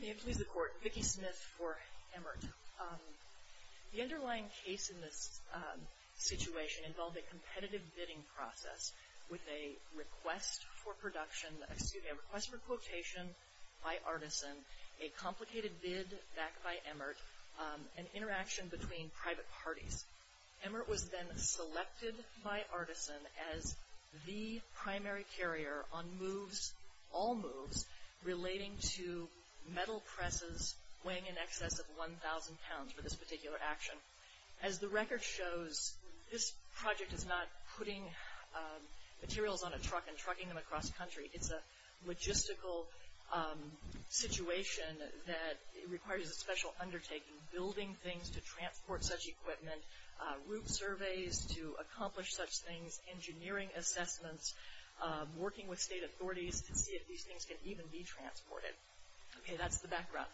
May it please the Court, Vicki Smith for Emert. The underlying case in this situation involved a competitive bidding process with a request for quotation by Artisan, a complicated bid back by Emert, and interaction between private parties. Emert was then selected by Artisan as the primary carrier on moves, all moves, relating to metal presses weighing in excess of 1,000 pounds for this particular action. As the record shows, this project is not putting materials on a truck and trucking them across country. It's a logistical situation that requires a special undertaking, building things to transport such equipment, route surveys to accomplish such things, engineering assessments, working with state authorities to see if these things can even be transported. Okay, that's the background.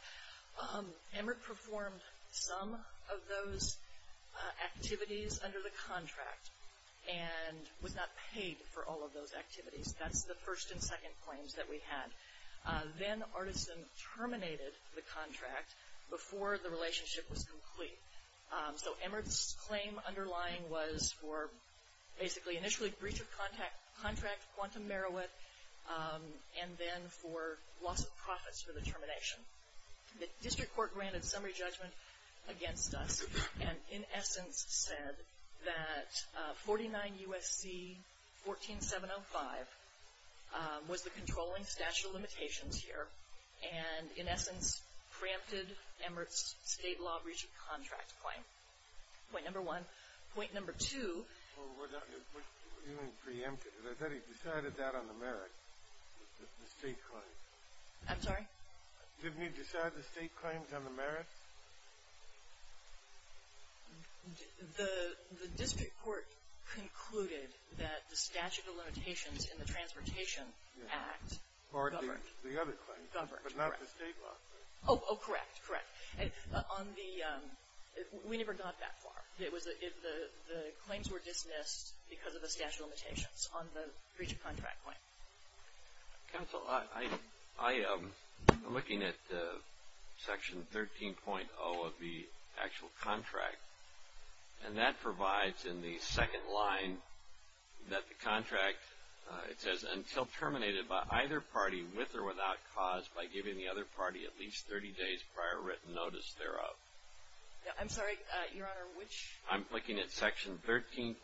Emert performed some of those activities under the contract and was not paid for all of those activities. That's the first and second claims that we had. Then Artisan terminated the contract before the contract was for basically initially breach of contract, quantum merowith, and then for loss of profits for the termination. The district court granted summary judgment against us and in essence said that 49 U.S.C. 14705 was the controlling statute of limitations here and in essence preempted Emert's state law breach of contract claim. Point number one. Point number two. Well, you didn't preempt it. I thought he decided that on the merits, the state claims. I'm sorry? Didn't he decide the state claims on the merits? The district court concluded that the statute of limitations in the Transportation Act governed. Or the other claims. Governed, correct. But not the state law. Oh, correct, correct. We never got that far. The claims were dismissed because of the statute of limitations on the breach of contract claim. Counsel, I am looking at section 13.0 of the actual contract and that provides in the second line that the contract, it says until terminated by either party with or without cause by giving the other party at least 30 days prior written notice thereof. I'm sorry, Your Honor, which? I'm looking at section 13.0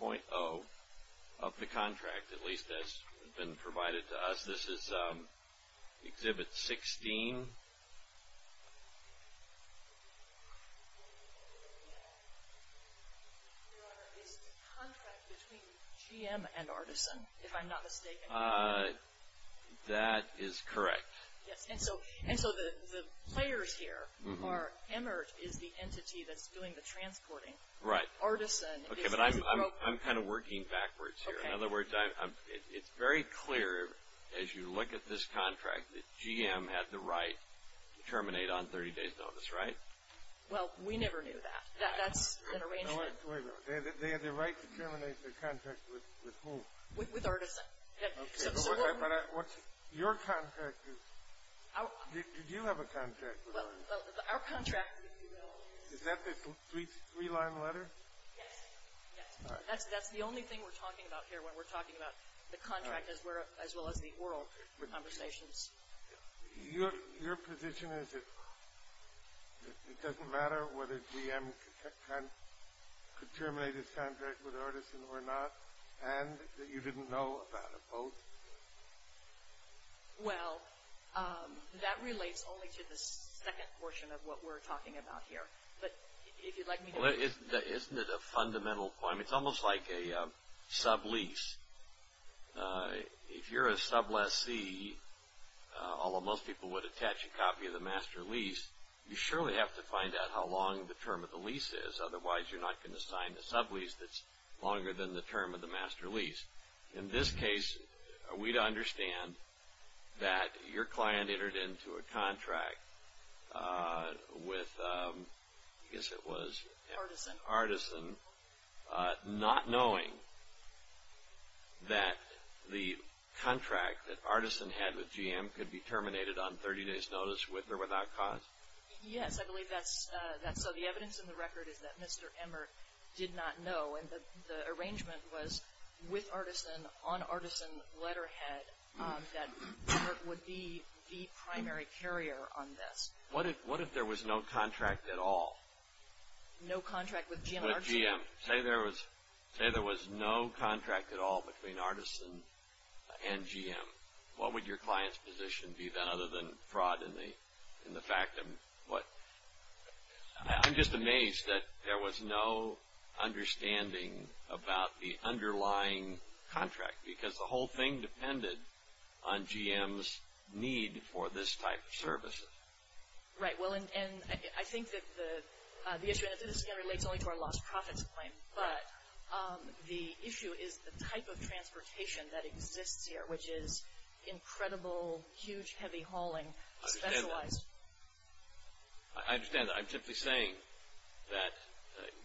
of the contract, at least as has been provided to us. This is exhibit 16. Your Honor, is the contract between GM and Artisan, if I'm not mistaken? That is correct. And so the players here are Emert is the entity that's doing the transporting. Right. Artisan is the broker. Okay, but I'm kind of working backwards here. In other words, it's very clear as you look at this contract that GM had the right to terminate on 30 days notice, right? Well, we never knew that. That's an arrangement. They had the right to terminate the contract with who? With Artisan. Okay, but what's your contract? Did you have a contract with Artisan? Well, our contract, if you will. Is that the three-line letter? Yes. All right. That's the only thing we're talking about here when we're talking about the contract as well as the oral conversations. Your position is it doesn't matter whether GM could terminate its contract with Artisan or not and that you didn't know about it both? Well, that relates only to the second portion of what we're talking about here. Isn't it a fundamental point? It's almost like a sublease. If you're a subleasee, although most people would attach a copy of the master lease, you surely have to find out how long the term of the lease is. Otherwise, you're not going to sign a sublease that's longer than the term of the master lease. In this case, we'd understand that your client entered into a contract with Artisan not knowing that the contract that Artisan had with GM could be terminated on 30 days' notice with or without cause. Yes, I believe that's so. The evidence in the record is that Mr. Emert did not know. The arrangement was with Artisan on Artisan letterhead that Emert would be the primary carrier on this. What if there was no contract at all? No contract with GM? Say there was no contract at all between Artisan and GM. What would your client's position be then other than fraud in the fact of what? I'm just amazed that there was no understanding about the underlying contract because the whole thing depended on GM's need for this type of services. Right, well, and I think that the issue relates only to our lost profits claim, but the issue is the type of transportation that exists here, which is incredible, huge, heavy hauling, specialized. I understand that. I'm simply saying that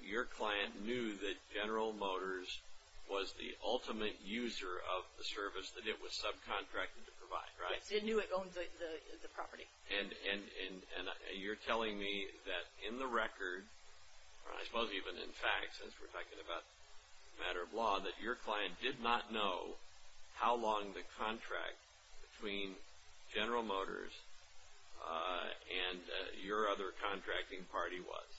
your client knew that General Motors was the ultimate user of the service that it was subcontracted to provide, right? It knew it owned the property. And you're telling me that in the record, I suppose even in fact, since we're talking about a matter of law, that your client did not know how long the contract between General Motors and your other contracting party was.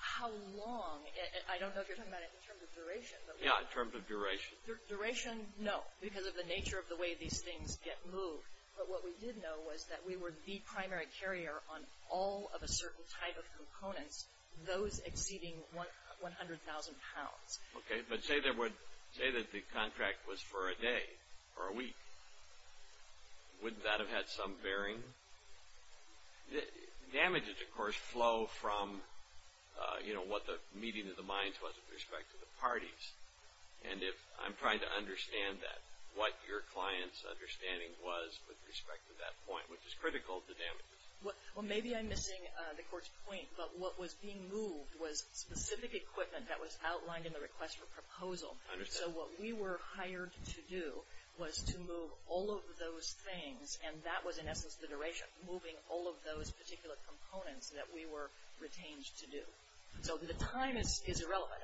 How long? I don't know if you're talking about it in terms of duration. Yeah, in terms of duration. Duration, no, because of the nature of the way these things get moved. But what we did know was that we were the primary carrier on all of a certain type of components, those exceeding 100,000 pounds. Okay, but say that the contract was for a day or a week. Wouldn't that have had some bearing? Damages, of course, flow from what the meeting of the minds was with respect to the parties. And I'm trying to understand what your client's understanding was with respect to that point, which is critical to damages. Well, maybe I'm missing the court's point, but what was being moved was specific equipment that was outlined in the request for proposal. So what we were hired to do was to move all of those things, and that was in essence the duration, moving all of those particular components that we were retained to do. So the time is irrelevant.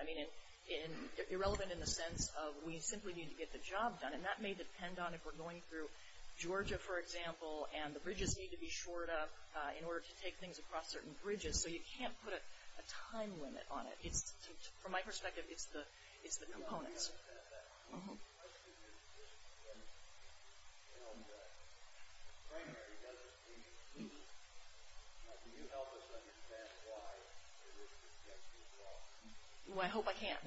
Irrelevant in the sense of we simply need to get the job done. And that may depend on if we're going through Georgia, for example, and the bridges need to be shored up in order to take things across certain bridges. So you can't put a time limit on it. From my perspective, it's the components. The question is, frankly, does the, can you help us understand why it is that the judge is wrong? Well, I hope I can.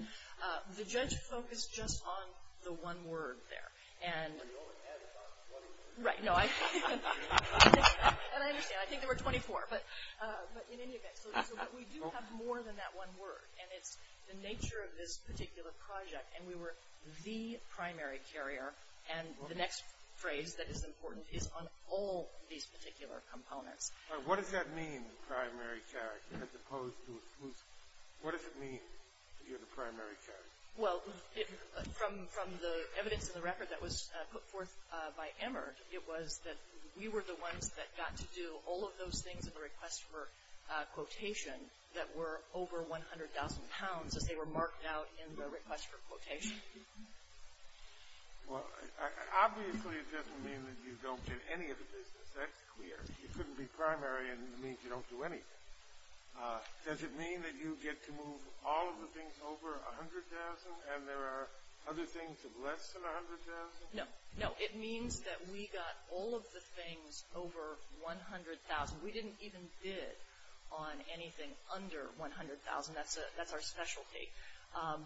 The judge focused just on the one word there. Well, you only had about 24. Right, no, I, and I understand. I think there were 24, but in any event, so we do have more than that one word, and it's the nature of this particular project, and we were the primary carrier, and the next phrase that is important is on all these particular components. What does that mean, primary carrier, as opposed to, what does it mean that you're the primary carrier? Well, from the evidence in the record that was put forth by Emmer, it was that we were the ones that got to do all of those things in the request for quotation that were over 100,000 pounds as they were marked out in the request for quotation. Well, obviously it doesn't mean that you don't get any of the business. That's clear. You couldn't be primary, and it means you don't do anything. Does it mean that you get to move all of the things over 100,000, and there are other things of less than 100,000? No, no, it means that we got all of the things over 100,000. We didn't even bid on anything under 100,000. That's our specialty,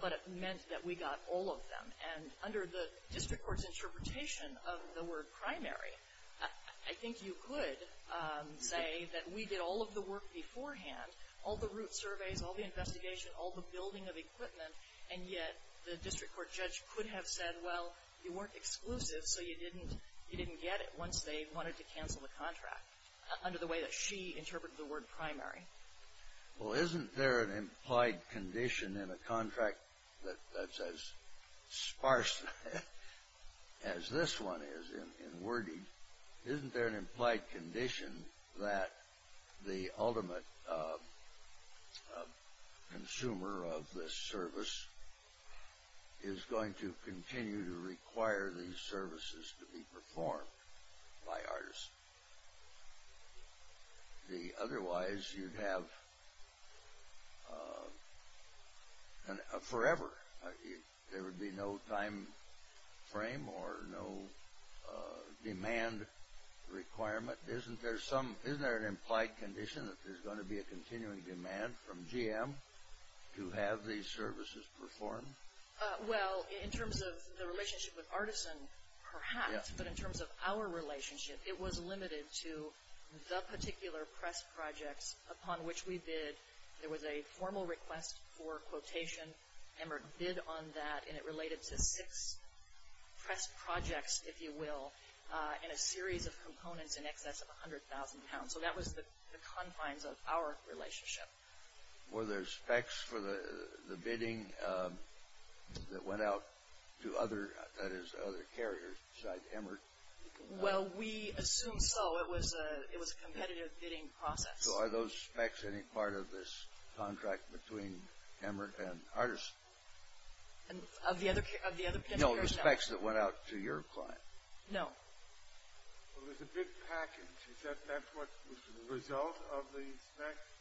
but it meant that we got all of them, and under the district court's interpretation of the word primary, I think you could say that we did all of the work beforehand, all the route surveys, all the investigation, all the building of equipment, and yet the district court judge could have said, well, you weren't exclusive, so you didn't get it once they wanted to cancel the contract under the way that she interpreted the word primary. Well, isn't there an implied condition in a contract that's as sparse as this one is in wording? Isn't there an implied condition that the ultimate consumer of this service is going to continue to require these services to be performed by artists? Otherwise, you'd have forever. There would be no time frame or no demand requirement. Isn't there an implied condition that there's going to be a continuing demand from GM to have these services performed? Well, in terms of the relationship with Artisan, perhaps, but in terms of our relationship, it was limited to the particular press projects upon which we bid. There was a formal request for quotation, and we bid on that, and it related to six press projects, if you will, and a series of components in excess of 100,000 pounds. So that was the confines of our relationship. Were there specs for the bidding that went out to other carriers besides Emert? Well, we assume so. It was a competitive bidding process. So are those specs any part of this contract between Emert and Artisan? Of the other carriers, no. No, the specs that went out to your client? No. Well, there's a big package. Is that what was the result of the specs?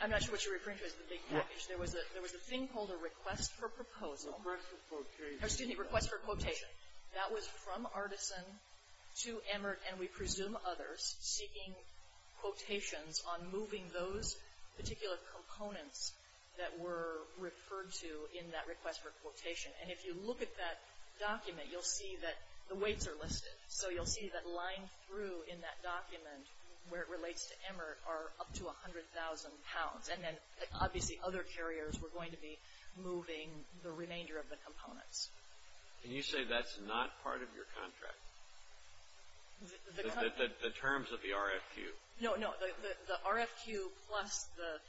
I'm not sure what you're referring to as the big package. There was a thing called a request for proposal. A request for quotation. Excuse me, a request for quotation. That was from Artisan to Emert, and we presume others, seeking quotations on moving those particular components that were referred to in that request for quotation. And if you look at that document, you'll see that the weights are listed. So you'll see that lined through in that document, where it relates to Emert, are up to 100,000 pounds. And then obviously other carriers were going to be moving the remainder of the components. Can you say that's not part of your contract, the terms of the RFQ? No, no. The RFQ plus the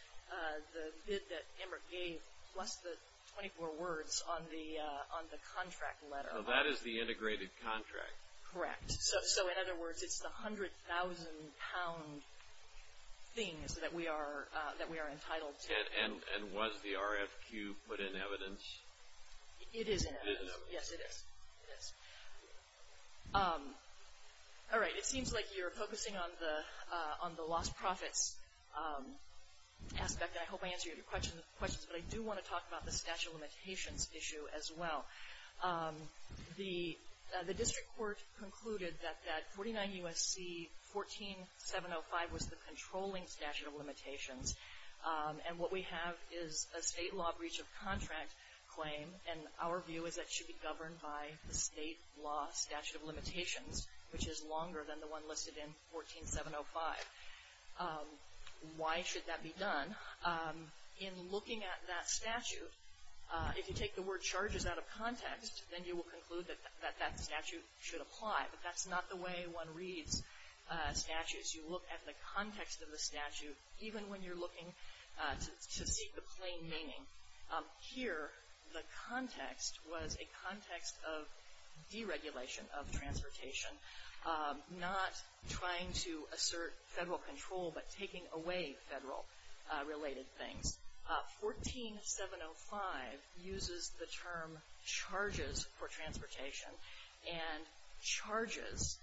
bid that Emert gave plus the 24 words on the contract letter. So that is the integrated contract. Correct. So in other words, it's the 100,000 pound things that we are entitled to. And was the RFQ put in evidence? It is in evidence. It is in evidence. Yes, it is. Yes. All right. It seems like you're focusing on the lost profits aspect, and I hope I answered your questions. But I do want to talk about the statute of limitations issue as well. The district court concluded that 49 U.S.C. 14705 was the controlling statute of limitations. And what we have is a state law breach of contract claim, and our view is that it should be governed by the state law statute of limitations, which is longer than the one listed in 14705. Why should that be done? In looking at that statute, if you take the word charges out of context, then you will conclude that that statute should apply. But that's not the way one reads statutes. You look at the context of the statute, even when you're looking to seek the plain meaning. Here, the context was a context of deregulation of transportation, not trying to assert federal control, but taking away federal-related things. 14705 uses the term charges for transportation. And charges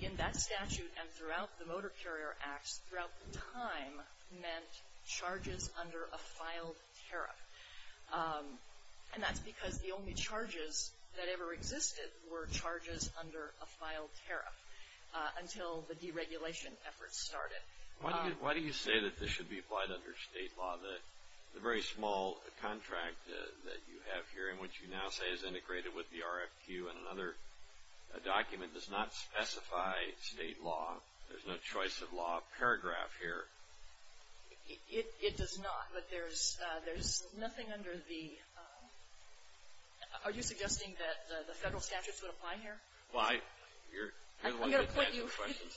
in that statute and throughout the Motor Carrier Acts, throughout the time, meant charges under a filed tariff. And that's because the only charges that ever existed were charges under a filed tariff until the deregulation efforts started. Why do you say that this should be applied under state law? The very small contract that you have here, in which you now say is integrated with the RFQ and another document does not specify state law. There's no choice of law paragraph here. It does not, but there's nothing under the – are you suggesting that the federal statutes would apply here? Well, you're the one that's answering questions.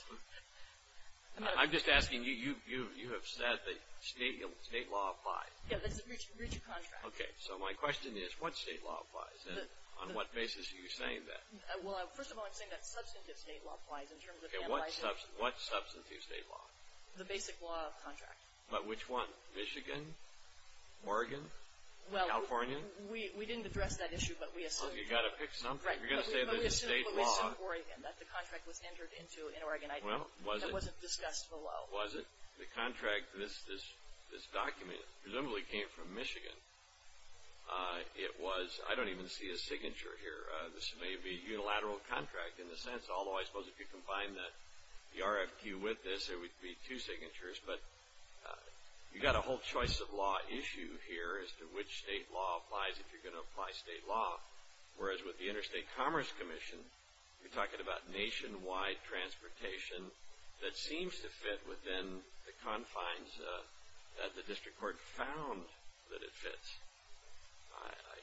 I'm just asking you. You have said that state law applies. Yeah, that's a breach of contract. Okay, so my question is, what state law applies? And on what basis are you saying that? Well, first of all, I'm saying that substantive state law applies in terms of analyzing what substantive state law? The basic law of contract. But which one? Michigan? Oregon? California? Well, we didn't address that issue, but we assumed. Well, you've got to pick something. You're going to say that it's state law. Right, but we assumed Oregon, that the contract was entered into in Oregon. Well, was it? That wasn't discussed below. Was it? The contract, this document, presumably came from Michigan. It was – I don't even see a signature here. This may be a unilateral contract in the sense, although I suppose if you combine the RFQ with this, it would be two signatures. But you've got a whole choice of law issue here as to which state law applies if you're going to apply state law, whereas with the Interstate Commerce Commission, you're talking about nationwide transportation that seems to fit within the confines that the district court found that it fits.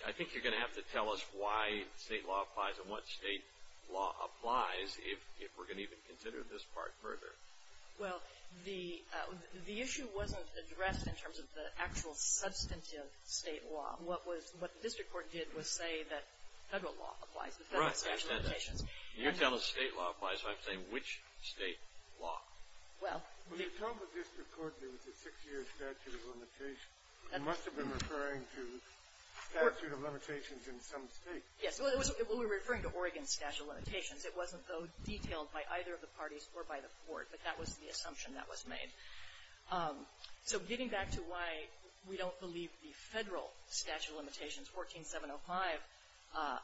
I think you're going to have to tell us why state law applies and what state law applies if we're going to even consider this part further. Well, the issue wasn't addressed in terms of the actual substantive state law. What the district court did was say that federal law applies to federal statute of limitations. Right. You're telling us state law applies, so I'm saying which state law? Well, the – When you talk about district court, there was a six-year statute of limitations. You must have been referring to statute of limitations in some state. Yes. Well, we were referring to Oregon's statute of limitations. It wasn't, though, detailed by either of the parties or by the court, but that was the assumption that was made. So getting back to why we don't believe the federal statute of limitations, 14705,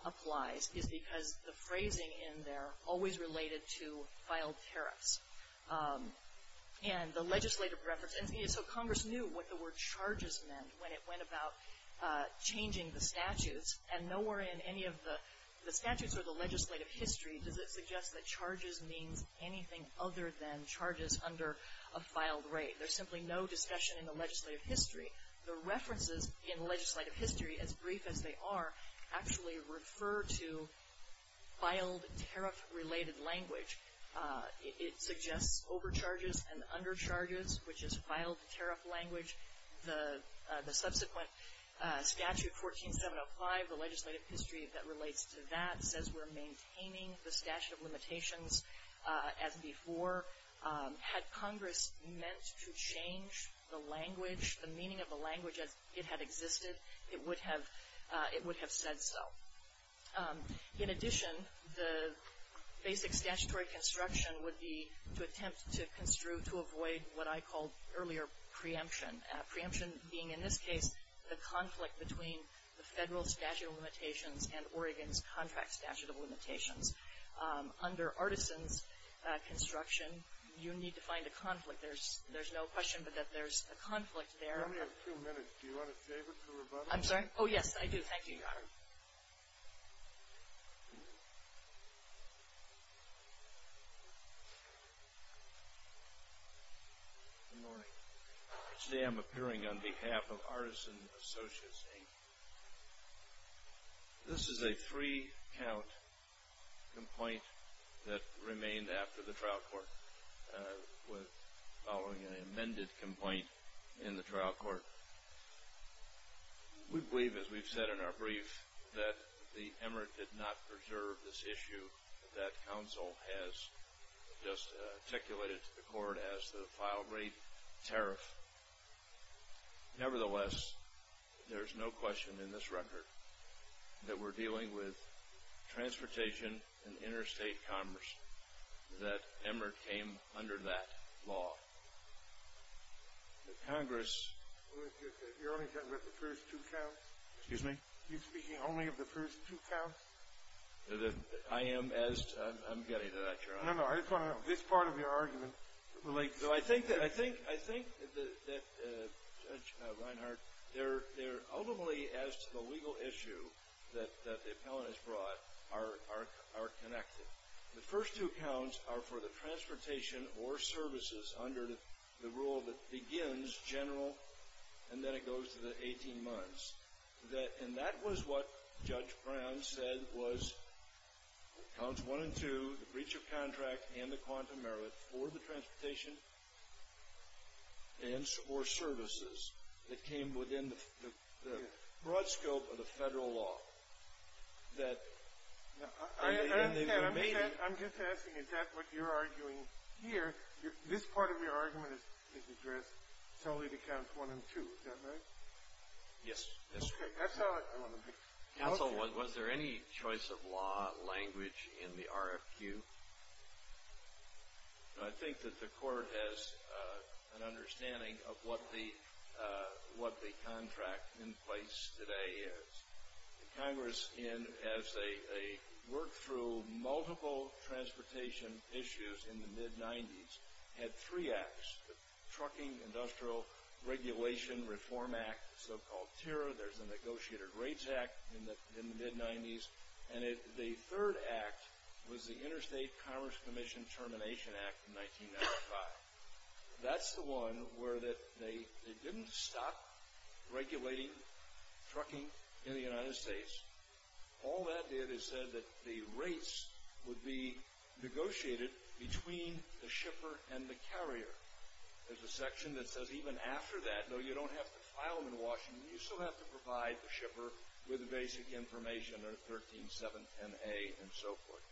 applies is because the phrasing in there always related to filed tariffs. And the legislative reference – and so Congress knew what the word charges meant when it went about changing the statutes. And nowhere in any of the statutes or the legislative history does it suggest that charges means anything other than charges under a filed rate. There's simply no discussion in the legislative history. The references in legislative history, as brief as they are, actually refer to filed tariff-related language. It suggests overcharges and undercharges, which is filed tariff language. The subsequent statute, 14705, the legislative history that relates to that, says we're maintaining the statute of limitations as before. Had Congress meant to change the language, the meaning of the language as it had existed, it would have said so. In addition, the basic statutory construction would be to attempt to construe, to avoid what I called earlier preemption. Preemption being, in this case, the conflict between the federal statute of limitations and Oregon's contract statute of limitations. Under Artisan's construction, you need to find a conflict. There's no question but that there's a conflict there. We only have two minutes. Do you want to save it for rebuttal? I'm sorry? Oh, yes, I do. Thank you, Your Honor. Good morning. Today I'm appearing on behalf of Artisan Associates, Inc. This is a three-count complaint that remained after the trial court following an amended complaint in the trial court. We believe, as we've said in our brief, that the emirate did not preserve this issue that counsel has just articulated to the court as the file rate tariff. Nevertheless, there's no question in this record that we're dealing with transportation and interstate commerce, that emirate came under that law. But, Congress, you're only talking about the first two counts? Excuse me? You're speaking only of the first two counts? I am, as to, I'm getting to that, Your Honor. No, no, I just want to know, this part of your argument relates. I think that, Judge Reinhart, they're ultimately, as to the legal issue that the appellant has brought, are connected. The first two counts are for the transportation or services under the rule that begins general and then it goes to the 18 months. And that was what Judge Brown said was counts one and two, the breach of contract and the quantum merit, for the transportation or services that came within the broad scope of the federal law. I understand. I'm just asking, is that what you're arguing here? This part of your argument is addressed solely to counts one and two. Is that right? Yes. That's all I want to know. Counsel, was there any choice of law language in the RFQ? I think that the court has an understanding of what the contract in place today is. Congress, as they worked through multiple transportation issues in the mid-'90s, had three acts, the Trucking Industrial Regulation Reform Act, the so-called TIRRA. There's the Negotiator's Rates Act in the mid-'90s. And the third act was the Interstate Commerce Commission Termination Act in 1995. That's the one where they didn't stop regulating trucking in the United States. All that did is said that the rates would be negotiated between the shipper and the carrier. There's a section that says even after that, though you don't have to file them in Washington, you still have to provide the shipper with the basic information or 13.710A and so forth.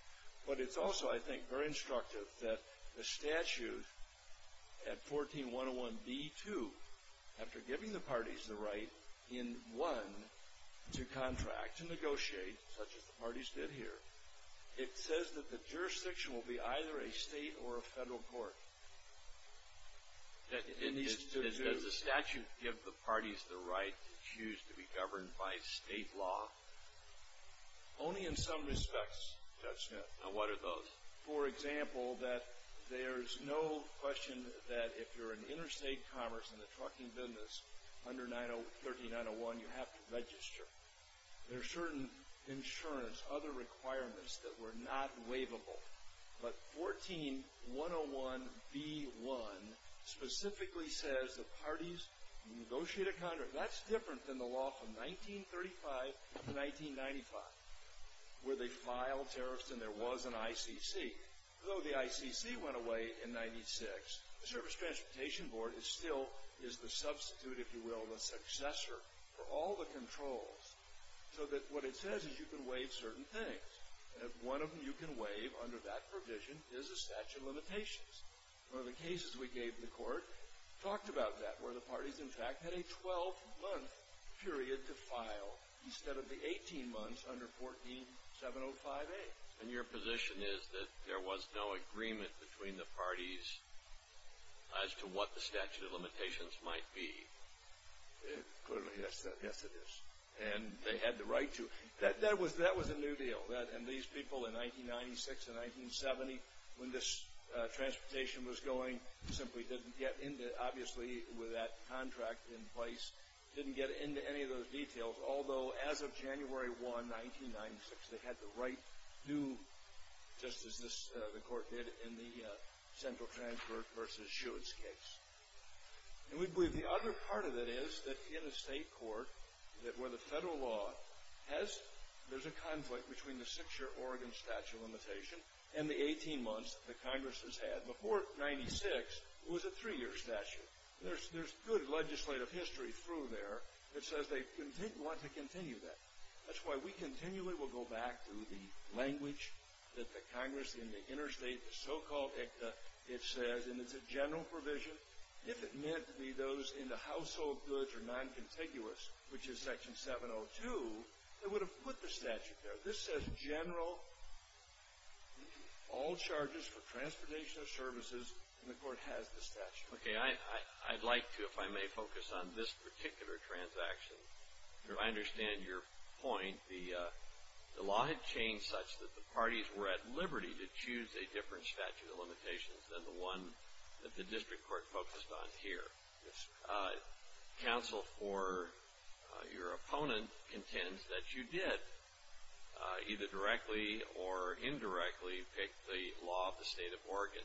But it's also, I think, very instructive that the statute at 14.101b.2, after giving the parties the right in one to contract, to negotiate, such as the parties did here, it says that the jurisdiction will be either a state or a federal court. Does the statute give the parties the right to choose to be governed by state law? Only in some respects, Judge Smith. Now, what are those? For example, that there's no question that if you're in interstate commerce in the trucking business under 13.901, you have to register. There are certain insurance, other requirements that were not waivable. But 14.101b.1 specifically says the parties negotiate a contract. That's different than the law from 1935 to 1995, where they filed tariffs and there was an ICC. Though the ICC went away in 1996, the Service Transportation Board is still the substitute, if you will, the successor for all the controls, so that what it says is you can waive certain things. And if one of them you can waive under that provision is a statute of limitations. One of the cases we gave the court talked about that, where the parties, in fact, had a 12-month period to file instead of the 18 months under 14.705a. And your position is that there was no agreement between the parties as to what the statute of limitations might be? Yes, it is. And they had the right to. That was a new deal. And these people in 1996 and 1970, when this transportation was going, simply didn't get into, obviously, with that contract in place, didn't get into any of those details. Although, as of January 1, 1996, they had the right to, just as the court did in the Central Transport v. Schuetz case. And we believe the other part of it is that in a state court where the federal law has, there's a conflict between the six-year Oregon statute of limitation and the 18 months the Congress has had. Before 1996, it was a three-year statute. There's good legislative history through there that says they want to continue that. That's why we continually will go back to the language that the Congress in the interstate, the so-called ICTA, it says, and it's a general provision, if it meant to be those in the household goods or non-contiguous, which is section 702, it would have put the statute there. This says general, all charges for transportation of services, and the court has the statute. Okay. I'd like to, if I may, focus on this particular transaction. I understand your point. The law had changed such that the parties were at liberty to choose a different statute of limitations than the one that the district court focused on here. Yes, sir. Counsel for your opponent contends that you did either directly or indirectly pick the law of the state of Oregon.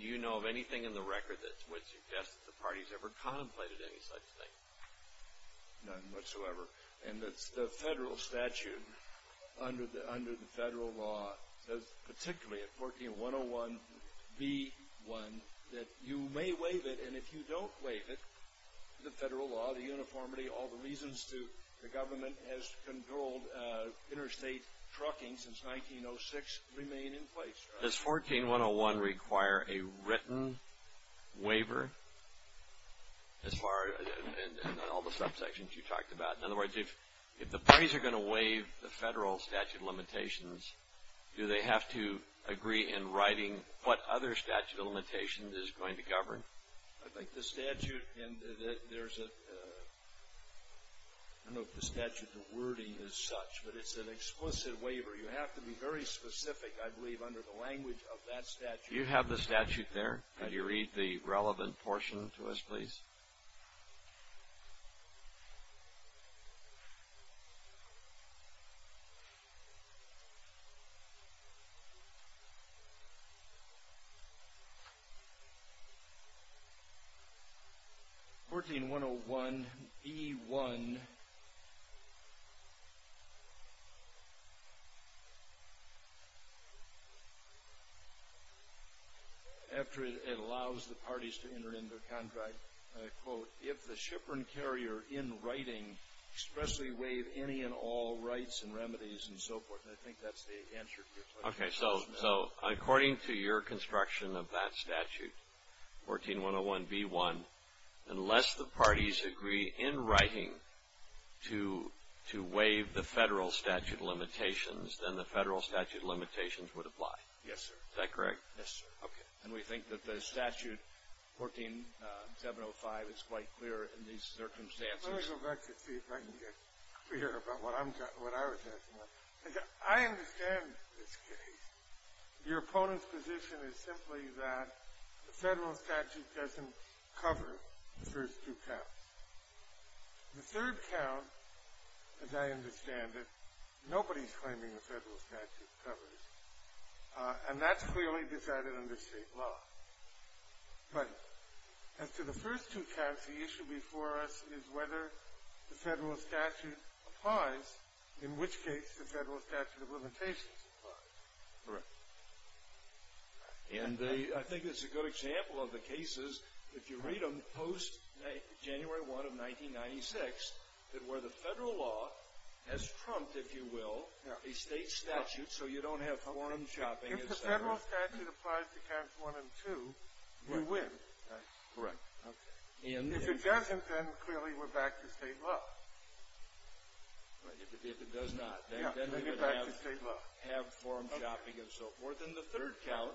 Do you know of anything in the record that would suggest that the parties ever contemplated any such thing? None whatsoever, and it's the federal statute under the federal law, says particularly at 14101B1 that you may waive it, and if you don't waive it, the federal law, the uniformity, all the reasons to the government has controlled interstate trucking since 1906 remain in place. Does 14101 require a written waiver as far as all the subsections you talked about? In other words, if the parties are going to waive the federal statute of limitations, do they have to agree in writing what other statute of limitations is going to govern? I think the statute, and there's a, I don't know if the statute of wording is such, but it's an explicit waiver. You have to be very specific, I believe, under the language of that statute. Do you have the statute there? Can you read the relevant portion to us, please? 14101B1. After it allows the parties to enter into a contract, I quote, if the shipper and carrier in writing expressly waive any and all rights and remedies and so forth, and I think that's the answer to your question. Okay, so according to your construction of that statute, 14101B1, unless the parties agree in writing to waive the federal statute of limitations, then the federal statute of limitations would apply. Yes, sir. Is that correct? Yes, sir. Okay. And we think that the statute, 14705, is quite clear in these circumstances. Let me go back to see if I can get clear about what I was asking. As I understand this case, your opponent's position is simply that the federal statute doesn't cover the first two counts. The third count, as I understand it, nobody's claiming the federal statute covers it, and that's clearly decided under State law. But as to the first two counts, the issue before us is whether the federal statute applies, in which case the federal statute of limitations applies. Correct. And I think it's a good example of the cases, if you read them, post-January 1 of 1996, where the federal law has trumped, if you will, a State statute so you don't have quorum chopping. If the federal statute applies to counts one and two, you win. Correct. Okay. If it doesn't, then clearly we're back to State law. If it does not, then we would have quorum chopping and so forth. And the third count,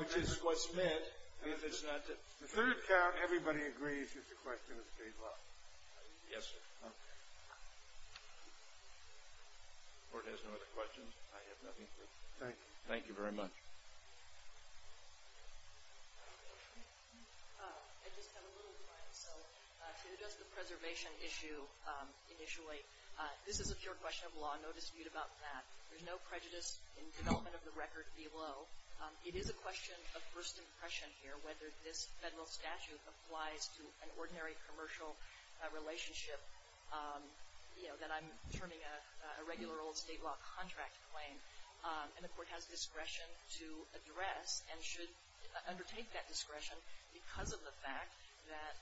which is what's meant. The third count, everybody agrees that the question is State law. Yes, sir. Okay. If the Court has no other questions, I have nothing for you. Thank you. Thank you very much. I just have a little time. So to address the preservation issue initially, this is a pure question of law. No dispute about that. There's no prejudice in development of the record below. It is a question of first impression here whether this federal statute applies to an ordinary commercial relationship, you know, that I'm terming a regular old State law contract claim. And the Court has discretion to address and should undertake that discretion because of the fact that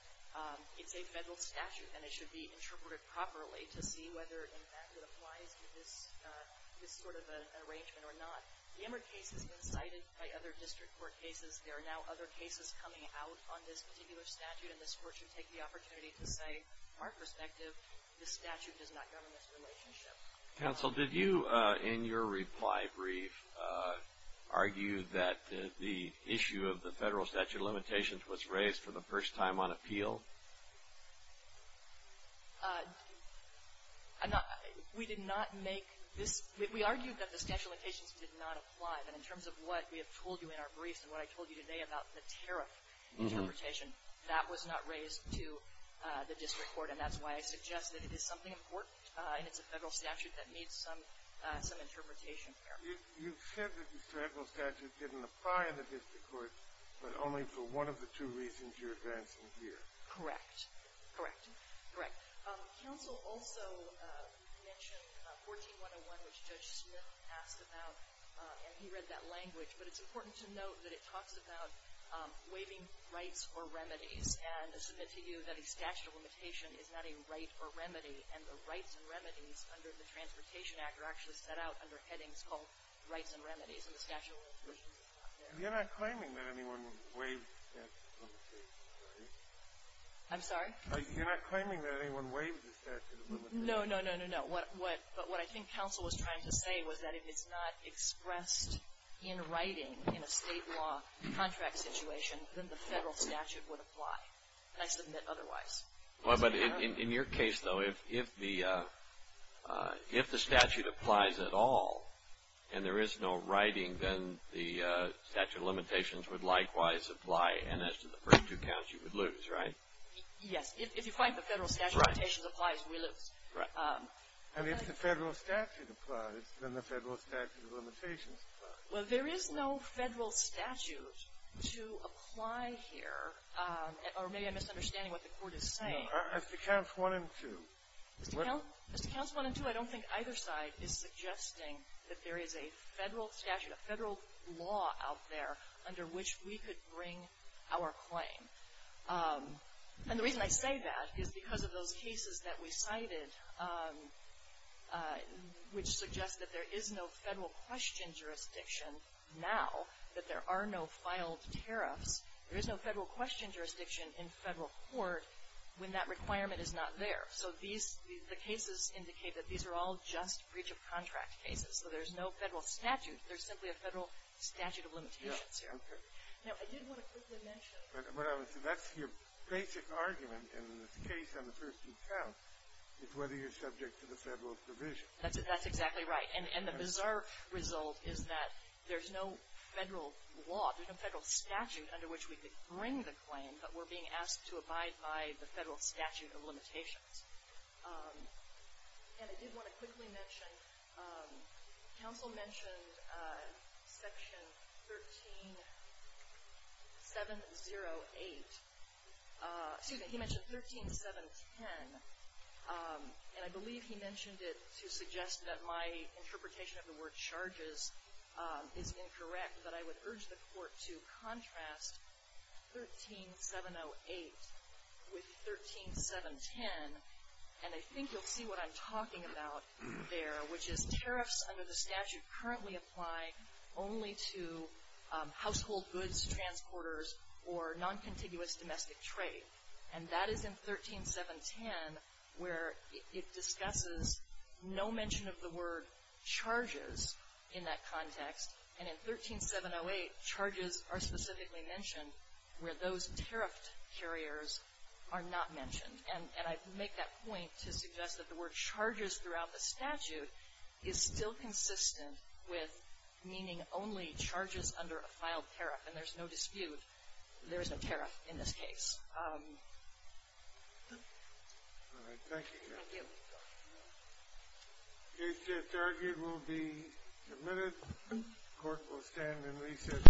it's a federal statute and it should be interpreted properly to see whether, in fact, it applies to this sort of an arrangement or not. The Emmer case has been cited by other district court cases. There are now other cases coming out on this particular statute, and this Court should take the opportunity to say, from our perspective, this statute does not govern this relationship. Counsel, did you, in your reply brief, argue that the issue of the federal statute of limitations was raised for the first time on appeal? We did not make this. We argued that the statute of limitations did not apply, but in terms of what we have told you in our briefs and what I told you today about the tariff interpretation, that was not raised to the district court, and that's why I suggest that it is something important, and it's a federal statute that needs some interpretation there. You've said that the federal statute didn't apply in the district courts, but only for one of the two reasons you're advancing here. Correct. Correct. Correct. Counsel also mentioned 14-101, which Judge Smith asked about, and he read that language. But it's important to note that it talks about waiving rights or remedies, and to submit to you that a statute of limitation is not a right or remedy, and the rights and remedies under the Transportation Act are actually set out under headings called rights and remedies, and the statute of limitations is not there. You're not claiming that anyone waived the statute of limitations, right? I'm sorry? You're not claiming that anyone waived the statute of limitations? No, no, no, no, no. What I think counsel was trying to say was that if it's not expressed in writing in a state law contract situation, then the federal statute would apply, and I submit otherwise. But in your case, though, if the statute applies at all and there is no writing, then the statute of limitations would likewise apply, and as to the first two counts, you would lose, right? Yes. If you find the federal statute of limitations applies, we lose. Right. And if the federal statute applies, then the federal statute of limitations applies. Well, there is no federal statute to apply here. Or maybe I'm misunderstanding what the Court is saying. No. As to Counts 1 and 2. As to Counts 1 and 2, I don't think either side is suggesting that there is a federal statute, a federal law out there under which we could bring our claim. And the reason I say that is because of those cases that we cited, which suggest that there is no federal question jurisdiction now, that there are no filed tariffs. There is no federal question jurisdiction in federal court when that requirement is not there. So these, the cases indicate that these are all just breach of contract cases. So there's no federal statute. There's simply a federal statute of limitations here. Okay. Now, I did want to quickly mention. That's your basic argument in this case on the first two counts, is whether you're subject to the federal provision. That's exactly right. And the bizarre result is that there's no federal law, there's no federal statute under which we could bring the claim, but we're being asked to abide by the federal statute of limitations. And I did want to quickly mention, counsel mentioned section 13708, excuse me, he mentioned 13710. And I believe he mentioned it to suggest that my interpretation of the word charges is incorrect, but I would urge the court to contrast 13708 with 13710. And I think you'll see what I'm talking about there, which is tariffs under the statute currently apply only to household goods, transporters, or noncontiguous domestic trade. And that is in 13710, where it discusses no mention of the word charges in that context. And in 13708, charges are specifically mentioned where those tariffed carriers are not mentioned. And I make that point to suggest that the word charges throughout the statute is still consistent with meaning only charges under a filed tariff, and there's no dispute there is no tariff in this case. All right. Thank you. Thank you. The case that's argued will be admitted. The court will stand in recess.